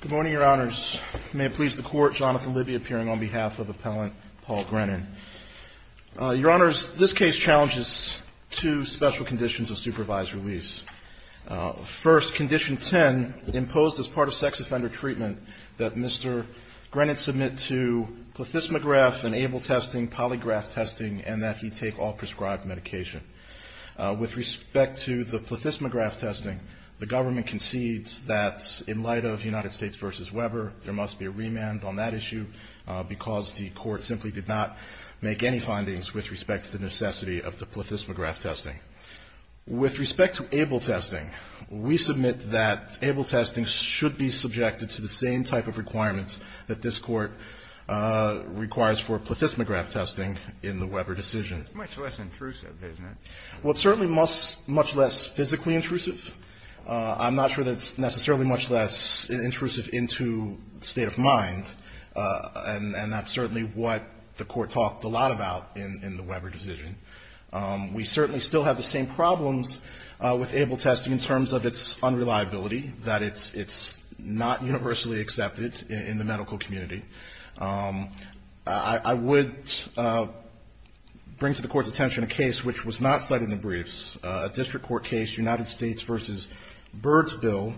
Good morning, Your Honors. May it please the Court, Jonathan Libby appearing on behalf of Appellant Paul Grennan. Your Honors, this case challenges two special conditions of supervised release. First, Condition 10, imposed as part of sex offender treatment, that Mr. Grennan submit to plethysmograph and able testing, polygraph testing, and that he take all prescribed medication. With respect to the plethysmograph testing, the government concedes that in light of United States v. Weber, there must be a remand on that issue because the Court simply did not make any findings with respect to the necessity of the plethysmograph testing. With respect to able testing, we submit that able testing should be subjected to the same type of requirements that this Court requires for plethysmograph testing in the Weber decision. Kennedy. It's much less intrusive, isn't it? GRENNAN Well, it's certainly much less physically intrusive. I'm not sure that it's necessarily much less intrusive into state of mind, and that's certainly what the Court talked a lot about in the Weber decision. We certainly still have the same problems with able testing in terms of its unreliability, that it's not universally accepted in the medical community. I would bring to the Court's attention a case which was not cited in the briefs, a district court case, United States v. Birdsville,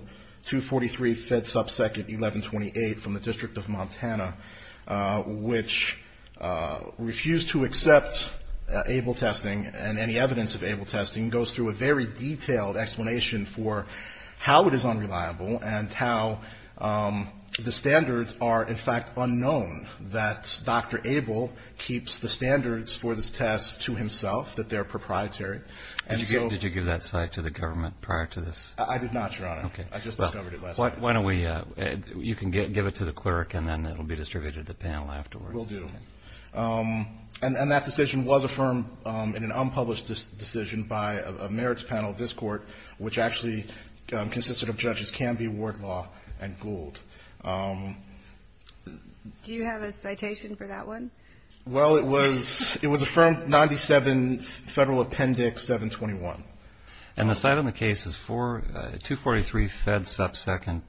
243 Fed subsequent 1128 from the District of Montana, which refused to accept able testing and any evidence of able testing, goes through a very detailed explanation for how it is unreliable and how the standards are in fact unknown, that Dr. Abel keeps the standards for this test to himself, that they're proprietary. And so ---- Kennedy. Did you give that cite to the government prior to this? GRENNAN I did not, Your Honor. Kennedy. Okay. GRENNAN I just discovered it last night. Kennedy. Why don't we ---- you can give it to the clerk, and then it will be distributed to the panel afterwards. GRENNAN Will do. And that decision was affirmed in an unpublished decision by a merits panel of this Court, which actually consisted of judges Canby, Wardlaw, and Gould. Kennedy. Do you have a citation for that one? GRENNAN Well, it was affirmed 97 Federal Appendix 721. Kennedy. And the cite on the case is for 243 Fed subsequent? GRENNAN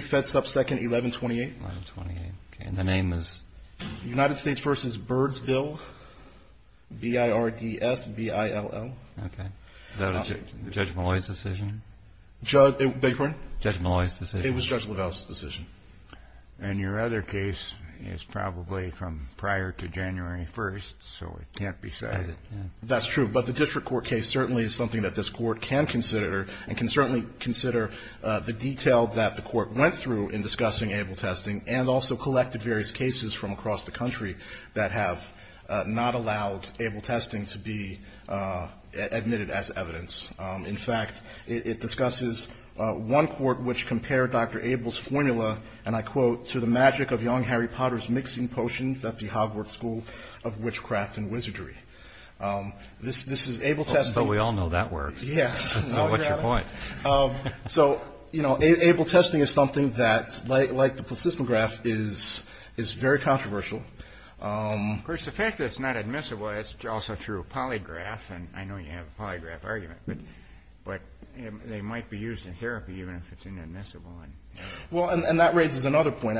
243 Fed subsequent 1128. Kennedy. 1128. Okay. And the name is? GRENNAN United States v. Birdsville, B-I-R-D-S-B-I-L-L. Kennedy. Okay. Is that a Judge Malloy's decision? GRENNAN Judge ---- beg your pardon? Kennedy. Judge Malloy's decision. GRENNAN It was Judge Lavelle's decision. Kennedy. And your other case is probably from prior to January 1st, so it can't be cited. GRENNAN That's true. But the district court case certainly is something that this Court can consider, and can certainly consider the detail that the Court went through in discussing ABLE testing, and also collected various cases from across the country that have not allowed ABLE testing to be admitted as evidence. In fact, it discusses one court which compared Dr. ABLE's formula, and I quote, to the magic of young Harry Potter's mixing potions at the Hogwarts School of Witchcraft and Wizardry. This is ABLE testing. Kennedy. Oh, so we all know that works. GRENNAN Yes. Kennedy. So what's your point? GRENNAN So, you know, ABLE testing is something that, like the placism graph, is very controversial. Kennedy. Of course, the fact that it's not admissible, it's also true of polygraph, and I know you have a polygraph argument, but they might be used in therapy even if it's inadmissible. GRENNAN Well, and that raises another point.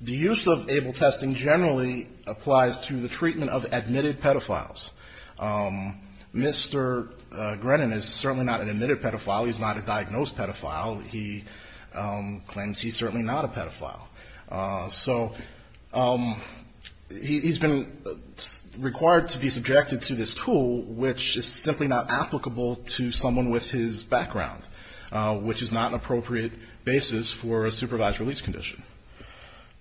The use of ABLE testing generally applies to the treatment of admitted pedophiles. Mr. Grennan is certainly not an admitted pedophile. He's not a diagnosed pedophile. He claims he's certainly not a pedophile. So he's been required to be subjected to this tool, which is simply not applicable to someone with his background, which is not an appropriate basis for a supervised release condition.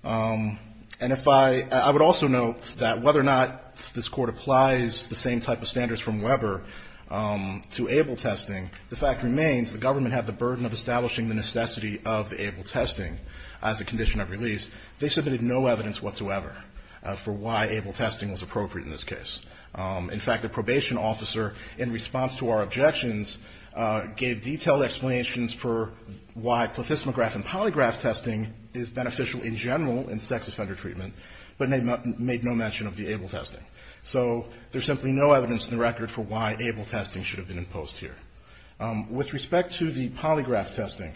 And if I – I would also note that whether or not this Court applies the same type of standards from Weber to ABLE testing, the fact remains the government had the burden of establishing the necessity of the ABLE testing as a condition of release. They submitted no evidence whatsoever for why ABLE testing was appropriate in this case. In fact, the probation officer, in response to our objections, gave detailed explanations for why placism graph and polygraph testing is beneficial in general in sex offender treatment, but made no mention of the ABLE testing. So there's simply no evidence in the record for why ABLE testing should have been imposed here. With respect to the polygraph testing,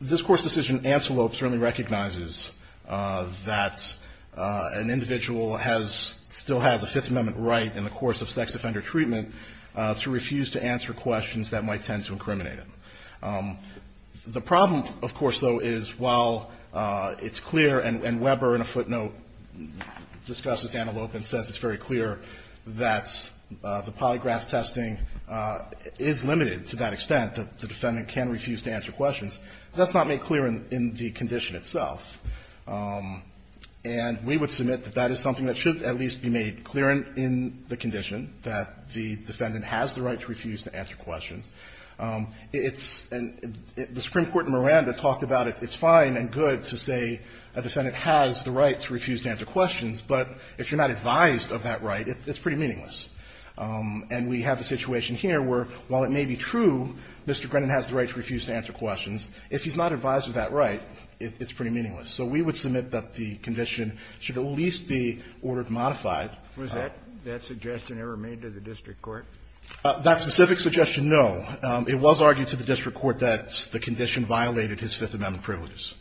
this Court's decision in antelope certainly recognizes that an individual has – still has a Fifth Amendment right in the course of sex offender treatment to refuse to answer questions that might tend to incriminate him. The problem, of course, though, is while it's clear, and Weber in a footnote discusses antelope and says it's very clear that the polygraph testing is limited to that extent that the defendant can refuse to answer questions, that's not made clear in the condition itself. And we would submit that that is something that should at least be made clear in the condition that the defendant has the right to refuse to answer questions. It's – and the Supreme Court in Miranda talked about it. It's fine and good to say a defendant has the right to refuse to answer questions. But if you're not advised of that right, it's pretty meaningless. And we have a situation here where, while it may be true Mr. Grennan has the right to refuse to answer questions, if he's not advised of that right, it's pretty meaningless. So we would submit that the condition should at least be ordered modified. Kennedy, was that suggestion ever made to the district court? That specific suggestion, no. It was argued to the district court that the condition violated his Fifth Amendment privileges.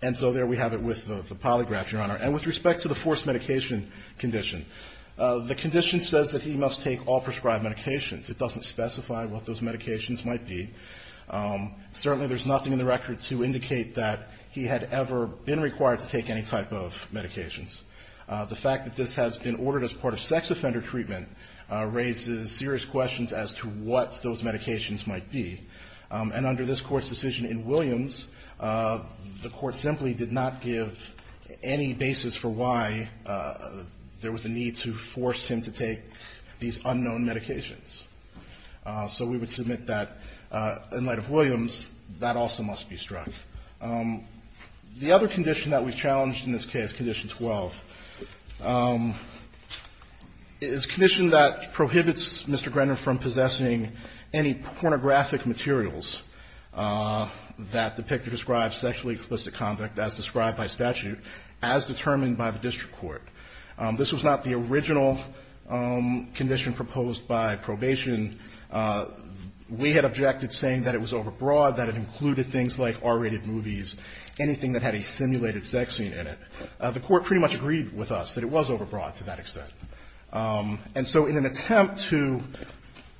And so there we have it with the polygraph, Your Honor. And with respect to the forced medication condition, the condition says that he must take all prescribed medications. It doesn't specify what those medications might be. Certainly there's nothing in the record to indicate that he had ever been required to take any type of medications. The fact that this has been ordered as part of sex offender treatment raises serious questions as to what those medications might be. And under this Court's decision in Williams, the Court simply did not give any basis for why there was a need to force him to take these unknown medications. So we would submit that, in light of Williams, that also must be struck. The other condition that we've challenged in this case, Condition 12, is a condition that prohibits Mr. Grenner from possessing any pornographic materials that depict or describe sexually explicit conduct as described by statute as determined by the district court. This was not the original condition proposed by probation. We had objected, saying that it was overbroad, that it included things like R-rated movies, anything that had a simulated sex scene in it. The Court pretty much agreed with us that it was overbroad to that extent. And so in an attempt to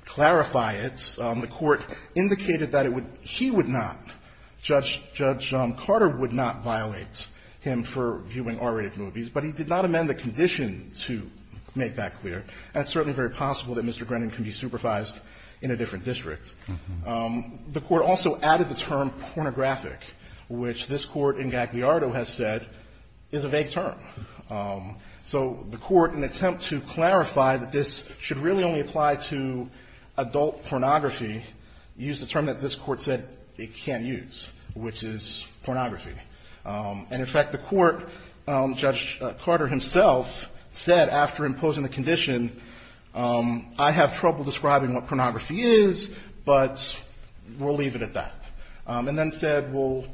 clarify it, the Court indicated that it would he would not, Judge John Carter would not violate him for viewing R-rated movies, but he did not amend the condition to make that clear. And it's certainly very possible that Mr. Grenner can be supervised in a different district. The Court also added the term pornographic, which this Court in Gagliardo has said is a vague term. So the Court, in an attempt to clarify that this should really only apply to adult pornography, used the term that this Court said it can't use, which is pornography. And in fact, the Court, Judge Carter himself, said after imposing the condition, I have trouble describing what pornography is, but we'll leave it at that. And then said, we'll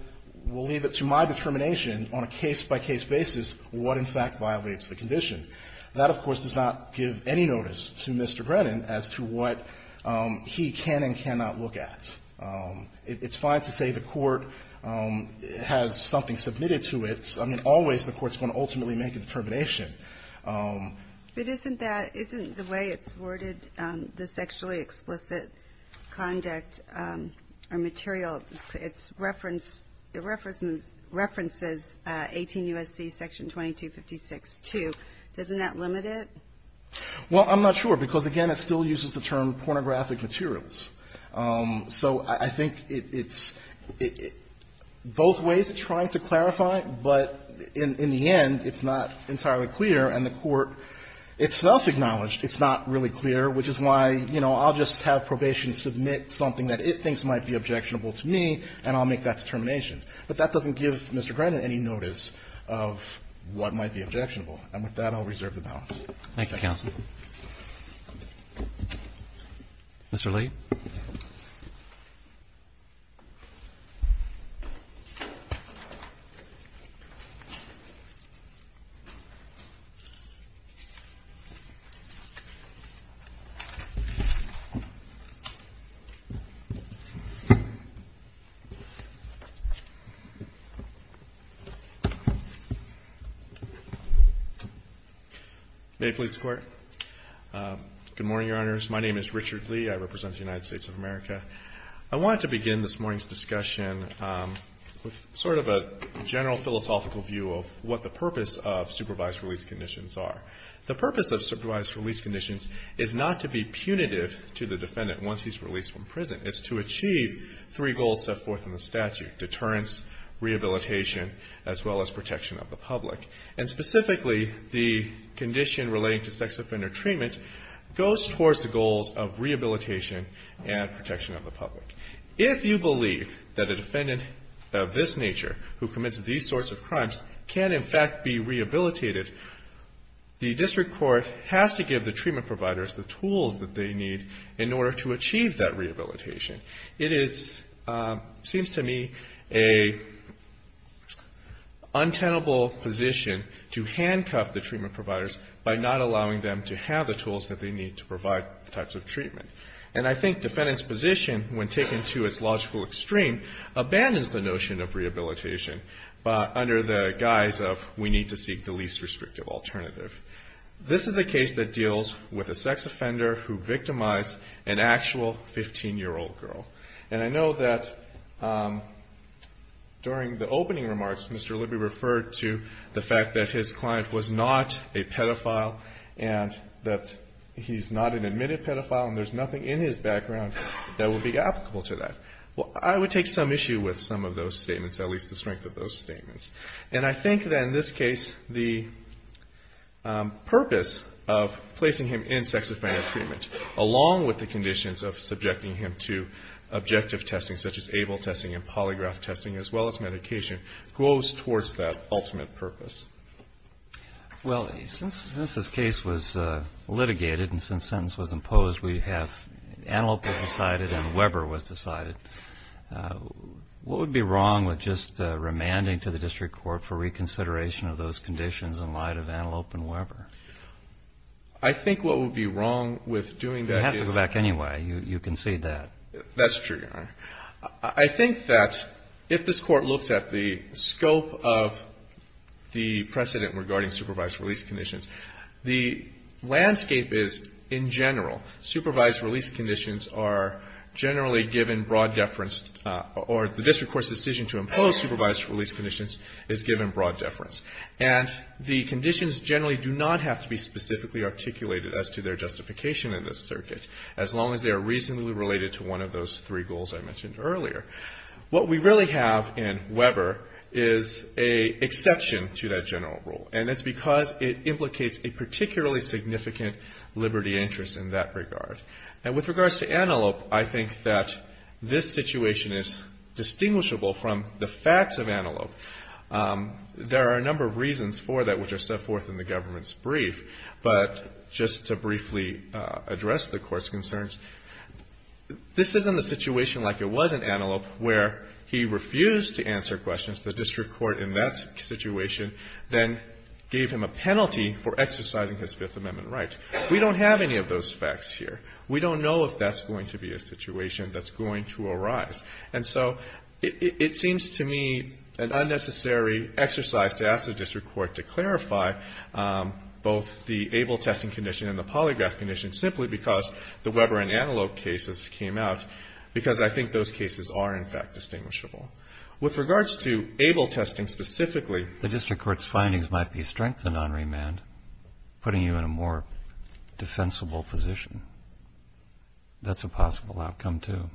leave it to my determination on a case-by-case basis what in fact violates the condition. That, of course, does not give any notice to Mr. Brennan as to what he can and cannot look at. It's fine to say the Court has something submitted to it. I mean, always the Court's going to ultimately make a determination. But isn't that, isn't the way it's worded, the sexually explicit conduct or material, it's referenced, it references 18 U.S.C. section 2256-2. Doesn't that limit it? Well, I'm not sure, because again, it still uses the term pornographic materials. So I think it's both ways of trying to clarify, but in the end, it's not entirely clear, and the Court itself acknowledged it's not really clear, which is why, you know, I'll just have probation submit something that it thinks might be objectionable to me, and I'll make that determination. But that doesn't give Mr. Brennan any notice of what might be objectionable. And with that, I'll reserve the balance. Thank you, Counsel. May it please the Court? Good morning, Your Honors. My name is Richard Lee. I represent the United States of America. I wanted to begin this morning's discussion with sort of a general philosophical view of what the purpose of supervised release conditions are. The purpose of supervised release conditions is not to be punitive to the defendant once he's released from prison. It's to achieve three goals set forth in the statute, deterrence, rehabilitation, as well as protection of the public. And specifically, the condition relating to sex offender treatment goes towards the goals of rehabilitation and protection of the public. If you believe that a defendant of this nature who commits these sorts of crimes can, in fact, be rehabilitated, the district court has to give the treatment providers the tools that they need in order to achieve that rehabilitation. It is, seems to me, an untenable position to handcuff the treatment providers by not allowing them to have the tools that they need to provide the types of treatment. And I think defendant's position, when taken to its logical extreme, abandons the notion of rehabilitation under the guise of we need to seek the least restrictive alternative. This is a case that deals with a sex offender who victimized an actual 15-year-old girl. And I know that during the opening remarks, Mr. Libby referred to the fact that his client was not a pedophile and that he's not an admitted pedophile and there's nothing in his background that would be applicable to that. Well, I would take some issue with some of those statements, at least the strength of those statements. And I think that in this case, the purpose of placing him in sex offender treatment, along with the conditions of subjecting him to objective testing, such as able testing and polygraph testing, as well as medication, goes towards that ultimate purpose. Well, since this case was litigated and since sentence was imposed, we have antelope was decided and Weber was decided. What would be wrong with just remanding to the district court for reconsideration of those conditions in light of antelope and Weber? I think what would be wrong with doing that is... He has to go back anyway. You can say that. That's true, Your Honor. I think that if this Court looks at the scope of the precedent regarding supervised release conditions, the landscape is, in general, supervised release conditions are generally given broad deference or the district court's decision to impose supervised release conditions is given broad deference. And the conditions generally do not have to be specifically articulated as to their justification in this circuit, as long as they are reasonably related to one of those three goals I mentioned earlier. What we really have in Weber is an exception to that general rule. And it's because it implicates a particularly significant liberty interest in that regard. And with regards to antelope, I think that this situation is distinguishable from the facts of antelope. There are a number of reasons for that which are set forth in the government's brief. But just to briefly address the Court's concerns, this isn't a situation like it was in antelope where he refused to answer questions. The district court in that situation then gave him a penalty for exercising his Fifth Amendment right. We don't have any of those facts here. We don't know if that's going to be a situation that's going to arise. And so it seems to me an unnecessary exercise to ask the district court to clarify both the ABLE testing condition and the polygraph condition simply because the Weber and antelope cases came out, because I think those cases are in fact distinguishable. With regards to ABLE testing specifically. The district court's findings might be strengthened on remand, putting you in a more defensible position. That's a possible outcome, too.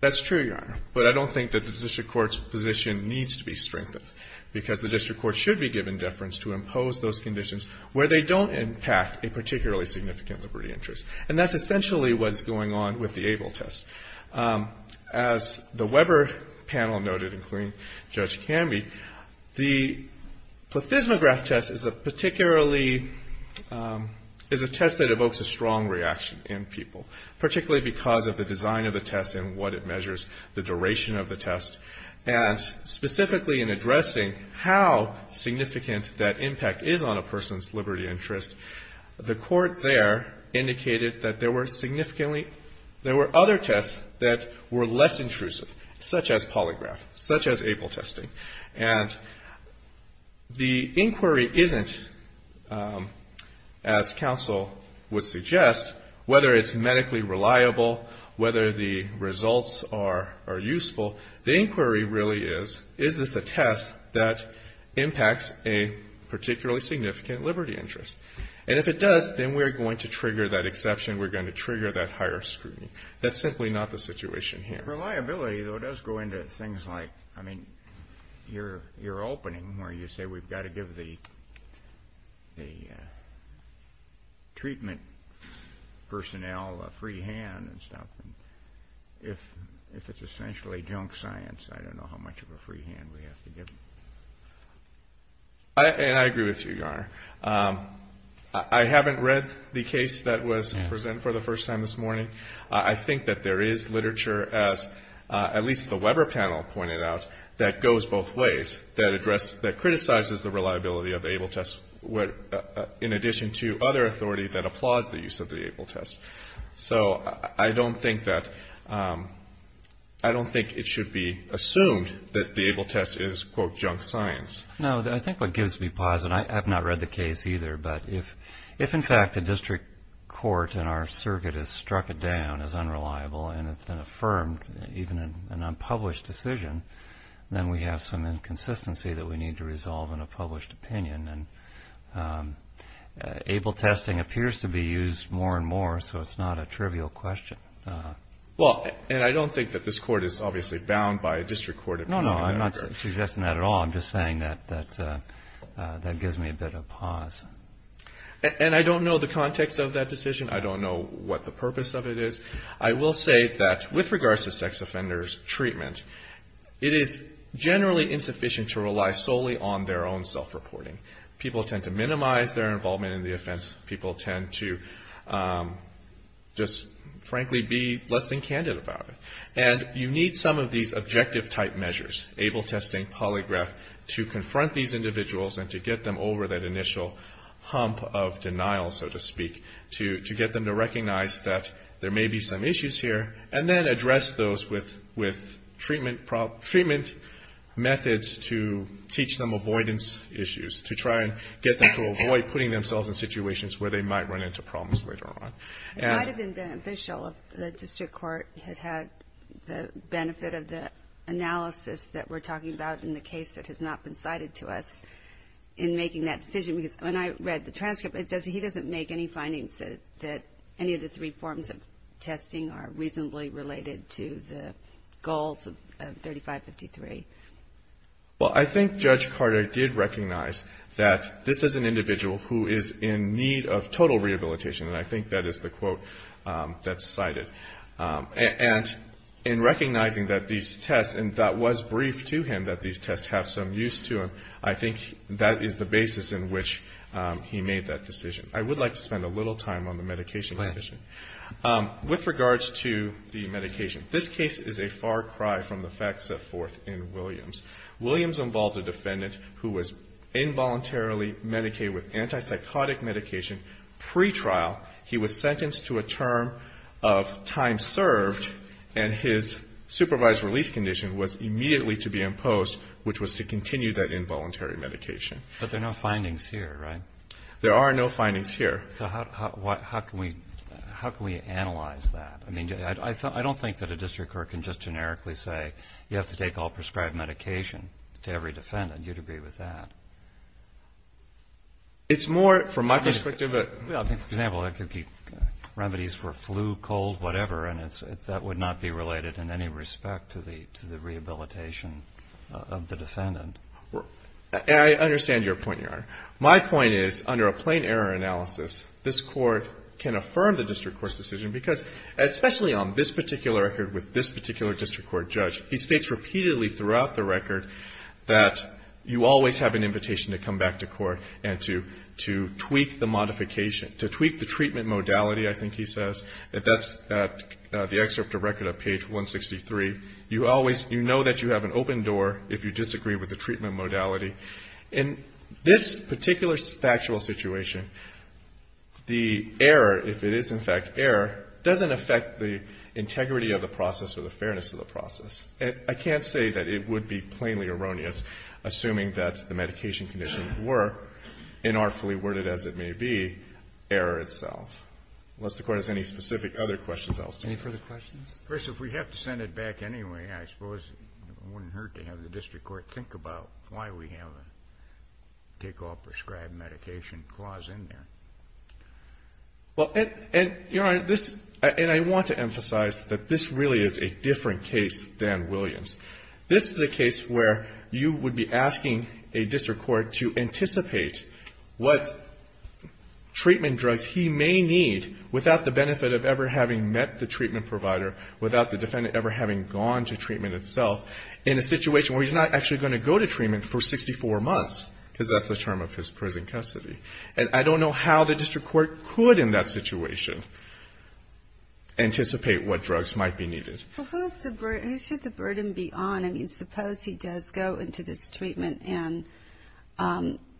That's true, Your Honor. But I don't think that the district court's position needs to be strengthened because the district court should be given deference to impose those conditions where they don't impact a particularly significant liberty interest. And that's essentially what's going on with the ABLE test. As the Weber panel noted, including Judge Canby, the plethysmograph test is a particularly — is a test that evokes a strong reaction in people, particularly because of the design of the test and what it measures, the duration of the test. And specifically in addressing how significant that impact is on a person's liberty interest, the court there indicated that there were significantly — there were other tests that were less intrusive, such as polygraph, such as ABLE testing. And the inquiry isn't, as counsel would suggest, whether it's medically reliable, whether the results are useful. The inquiry really is, is this a test that impacts a particularly significant liberty interest? And if it does, then we're going to trigger that exception. We're going to trigger that higher scrutiny. That's simply not the situation here. Reliability, though, does go into things like, I mean, your opening where you say we've got to give the treatment personnel a free hand and stuff. If it's essentially junk science, I don't know how much of a free hand we have to give them. And I agree with you, Your Honor. I haven't read the case that was presented for the first time this morning. I think that there is literature, as at least the Weber panel pointed out, that goes both ways, that criticizes the reliability of the ABLE test in addition to other authority that applauds the use of the ABLE test. So I don't think that it should be assumed that the ABLE test is, quote, junk science. No, I think what gives me pause, and I have not read the case either, but if, in fact, a district court in our circuit has struck it down as unreliable and it's been affirmed even in an unpublished decision, then we have some inconsistency that we need to resolve in a published opinion. And ABLE testing appears to be used more and more, so it's not a trivial question. Well, and I don't think that this Court is obviously bound by a district court opinion. No, no, I'm not suggesting that at all. I'm just saying that that gives me a bit of pause. And I don't know the context of that decision. I don't know what the purpose of it is. I will say that with regards to sex offenders treatment, it is generally insufficient to rely solely on their own self-reporting. People tend to minimize their involvement in the offense. People tend to just, frankly, be less than candid about it. And you need some of these objective-type measures, ABLE testing, polygraph, to confront these individuals and to get them over that initial hump of denial, so to speak, to get them to recognize that there may be some issues here, and then address those with treatment methods to teach them avoidance issues, to try and get them to avoid putting themselves in situations where they might run into problems later on. It might have been beneficial if the district court had had the benefit of the analysis that we're talking about in the case that has not been cited to us in making that decision. Because when I read the transcript, he doesn't make any findings that any of the three forms of testing are reasonably related to the goals of 3553. Well, I think Judge Carter did recognize that this is an individual who is in need of total rehabilitation, and I think that is the quote that's cited. And in recognizing that these tests, and that was briefed to him that these tests have some use to them, I think that is the basis in which he made that decision. I would like to spend a little time on the medication condition. With regards to the medication, this case is a far cry from the facts set forth in Williams. Williams involved a defendant who was involuntarily medicated with antipsychotic medication pretrial. He was sentenced to a term of time served, and his supervised release condition was immediately to be imposed, which was to continue that involuntary medication. But there are no findings here, right? There are no findings here. So how can we analyze that? I mean, I don't think that a district court can just generically say you have to take all prescribed medication to every defendant. You'd agree with that. It's more, from my perspective. Well, I think, for example, it could be remedies for flu, cold, whatever, and that would not be related in any respect to the rehabilitation of the defendant. I understand your point, Your Honor. My point is, under a plain error analysis, this Court can affirm the district court's decision because, especially on this particular record with this particular district court judge, he states repeatedly throughout the record that you always have an invitation to come back to court and to tweak the modification, to tweak the treatment modality, I think he says. That's the excerpt of Record of Page 163. You always know that you have an open door if you disagree with the treatment modality. In this particular factual situation, the error, if it is in fact error, doesn't affect the integrity of the process or the fairness of the process. I can't say that it would be plainly erroneous, assuming that the medication conditions were, inartfully worded as it may be, error itself. Unless the Court has any specific other questions, I'll stay. Any further questions? If we have to send it back anyway, I suppose it wouldn't hurt to have the district court think about why we have a take-off prescribed medication clause in there. Well, and, Your Honor, this — and I want to emphasize that this really is a different case than Williams. This is a case where you would be asking a district court to anticipate what treatment drugs he may need without the benefit of ever having met the treatment provider, without the defendant ever having gone to treatment itself, in a situation where he's not actually going to go to treatment for 64 months, because that's the term of his prison custody. And I don't know how the district court could, in that situation, anticipate what drugs might be needed. Well, who is the burden? Who should the burden be on? I mean, suppose he does go into this treatment and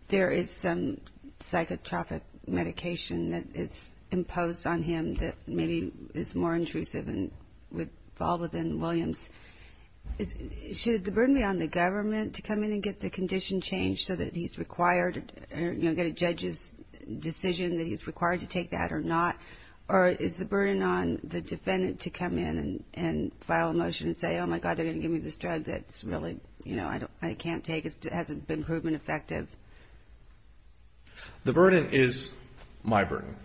there is some psychotropic medication that is imposed on him that maybe is more intrusive and would fall within Williams. Should the burden be on the government to come in and get the condition changed so that he's required, you know, get a judge's decision that he's required to take that or not? Or is the burden on the defendant to come in and file a motion and say, oh, my God, they're going to give me this drug that's really, you know, I can't take. It hasn't been proven effective. The burden is my burden.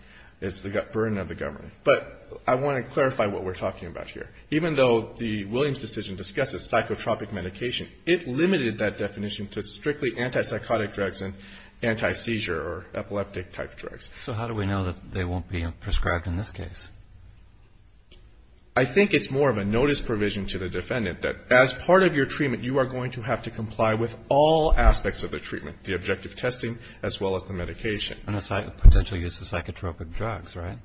It's the burden of the government. But I want to clarify what we're talking about here. Even though the Williams decision discusses psychotropic medication, it limited that definition to strictly antipsychotic drugs and antiseizure or epileptic-type drugs. So how do we know that they won't be prescribed in this case? I think it's more of a notice provision to the defendant that as part of your treatment, you are going to have to comply with all aspects of the treatment, the objective testing, as well as the medication. And the potential use of psychotropic drugs, right?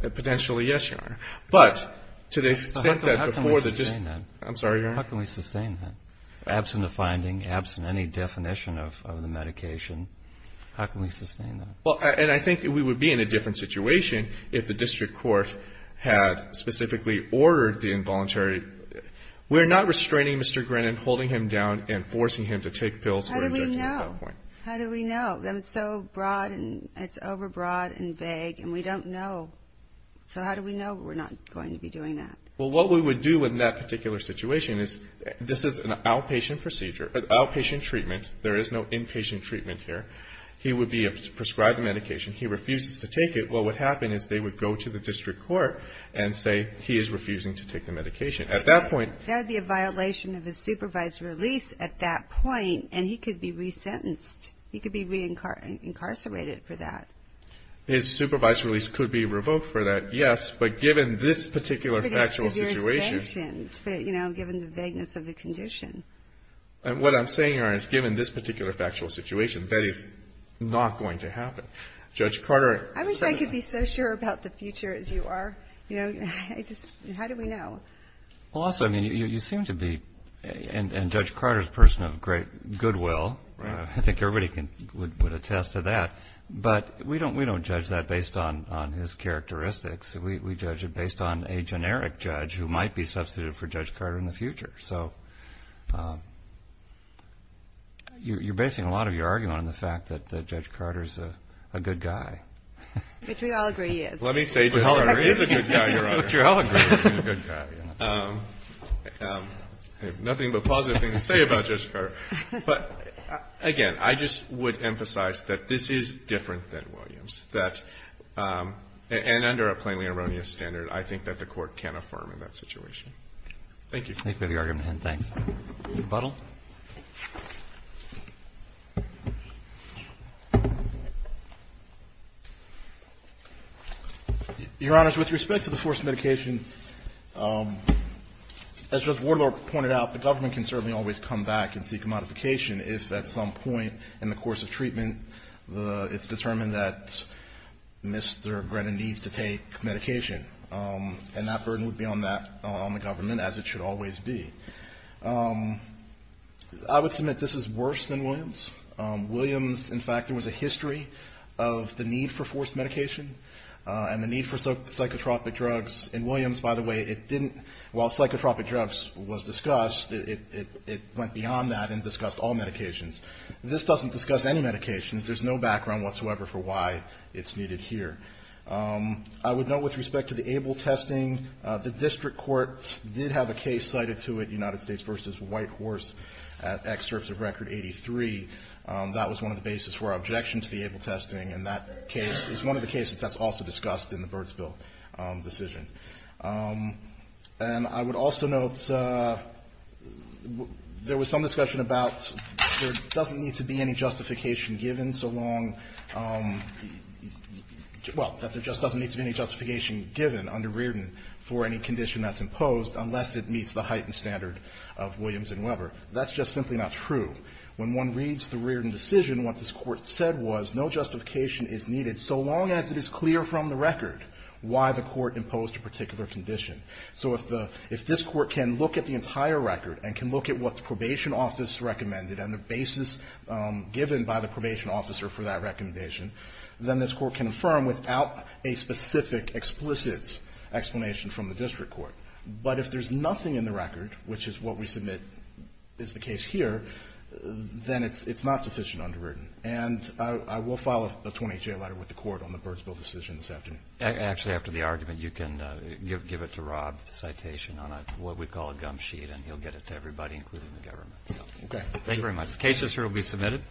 Potentially, yes, Your Honor. But to the extent that before the district. How can we sustain that? I'm sorry, Your Honor. How can we sustain that? Absent a finding, absent any definition of the medication, how can we sustain that? Well, and I think we would be in a different situation if the district court had specifically ordered the involuntary. We're not restraining Mr. Grennan, holding him down and forcing him to take pills. How do we know? How do we know? It's so broad and it's overbroad and vague, and we don't know. So how do we know we're not going to be doing that? Well, what we would do in that particular situation is this is an outpatient procedure, an outpatient treatment. There is no inpatient treatment here. He would be prescribed the medication. He refuses to take it. Well, what would happen is they would go to the district court and say he is refusing to take the medication. At that point. That would be a violation of his supervised release at that point, and he could be resentenced. He could be reincarcerated for that. His supervised release could be revoked for that, yes. But given this particular factual situation. It's a pretty severe sanction, but, you know, given the vagueness of the condition. And what I'm saying here is given this particular factual situation, that is not going to happen. Judge Carter. I wish I could be so sure about the future as you are. You know, how do we know? Well, also, I mean, you seem to be, and Judge Carter is a person of great goodwill. I think everybody would attest to that. But we don't judge that based on his characteristics. We judge it based on a generic judge who might be substituted for Judge Carter in the future. So you're basing a lot of your argument on the fact that Judge Carter is a good guy. Which we all agree he is. Let me say Judge Carter is a good guy, Your Honor. Which we all agree he's a good guy. Nothing but positive things to say about Judge Carter. But, again, I just would emphasize that this is different than Williams. And under a plainly erroneous standard, I think that the court can affirm in that situation. Thank you. Thank you for the argument, and thanks. Mr. Buttle. Your Honor, with respect to the forced medication, as Judge Waterloo pointed out, the government can certainly always come back and seek a modification if at some point in the course of treatment it's determined that Mr. Grennan needs to take medication. And that burden would be on the government, as it should always be. I would submit this is worse than Williams. Williams, in fact, there was a history of the need for forced medication and the need for psychotropic drugs. And Williams, by the way, it didn't — while psychotropic drugs was discussed, it went beyond that and discussed all medications. This doesn't discuss any medications. There's no background whatsoever for why it's needed here. I would note, with respect to the ABLE testing, the district court did have a case cited to it, United States v. Whitehorse, at excerpts of Record 83. That was one of the bases for our objection to the ABLE testing, and that case is one of the cases that's also discussed in the Burtsville decision. And I would also note there was some discussion about there doesn't need to be any justification given so long — well, that there just doesn't need to be any justification given under Reardon for any condition that's imposed unless it meets the heightened standard of Williams and Weber. That's just simply not true. When one reads the Reardon decision, what this Court said was no justification is needed so long as it is clear from the record why the Court imposed a particular condition. So if the — if this Court can look at the entire record and can look at what the Probation Office recommended and the basis given by the Probation Officer for that recommendation, then this Court can affirm without a specific explicit explanation from the district court. But if there's nothing in the record, which is what we submit is the case here, then it's not sufficient under Reardon. And I will file a 28-J letter with the Court on the Burtsville decision this afternoon. Actually, after the argument, you can give it to Rob, the citation on what we call a gum sheet, and he'll get it to everybody, including the government. Okay. Thank you very much. The case is here to be submitted.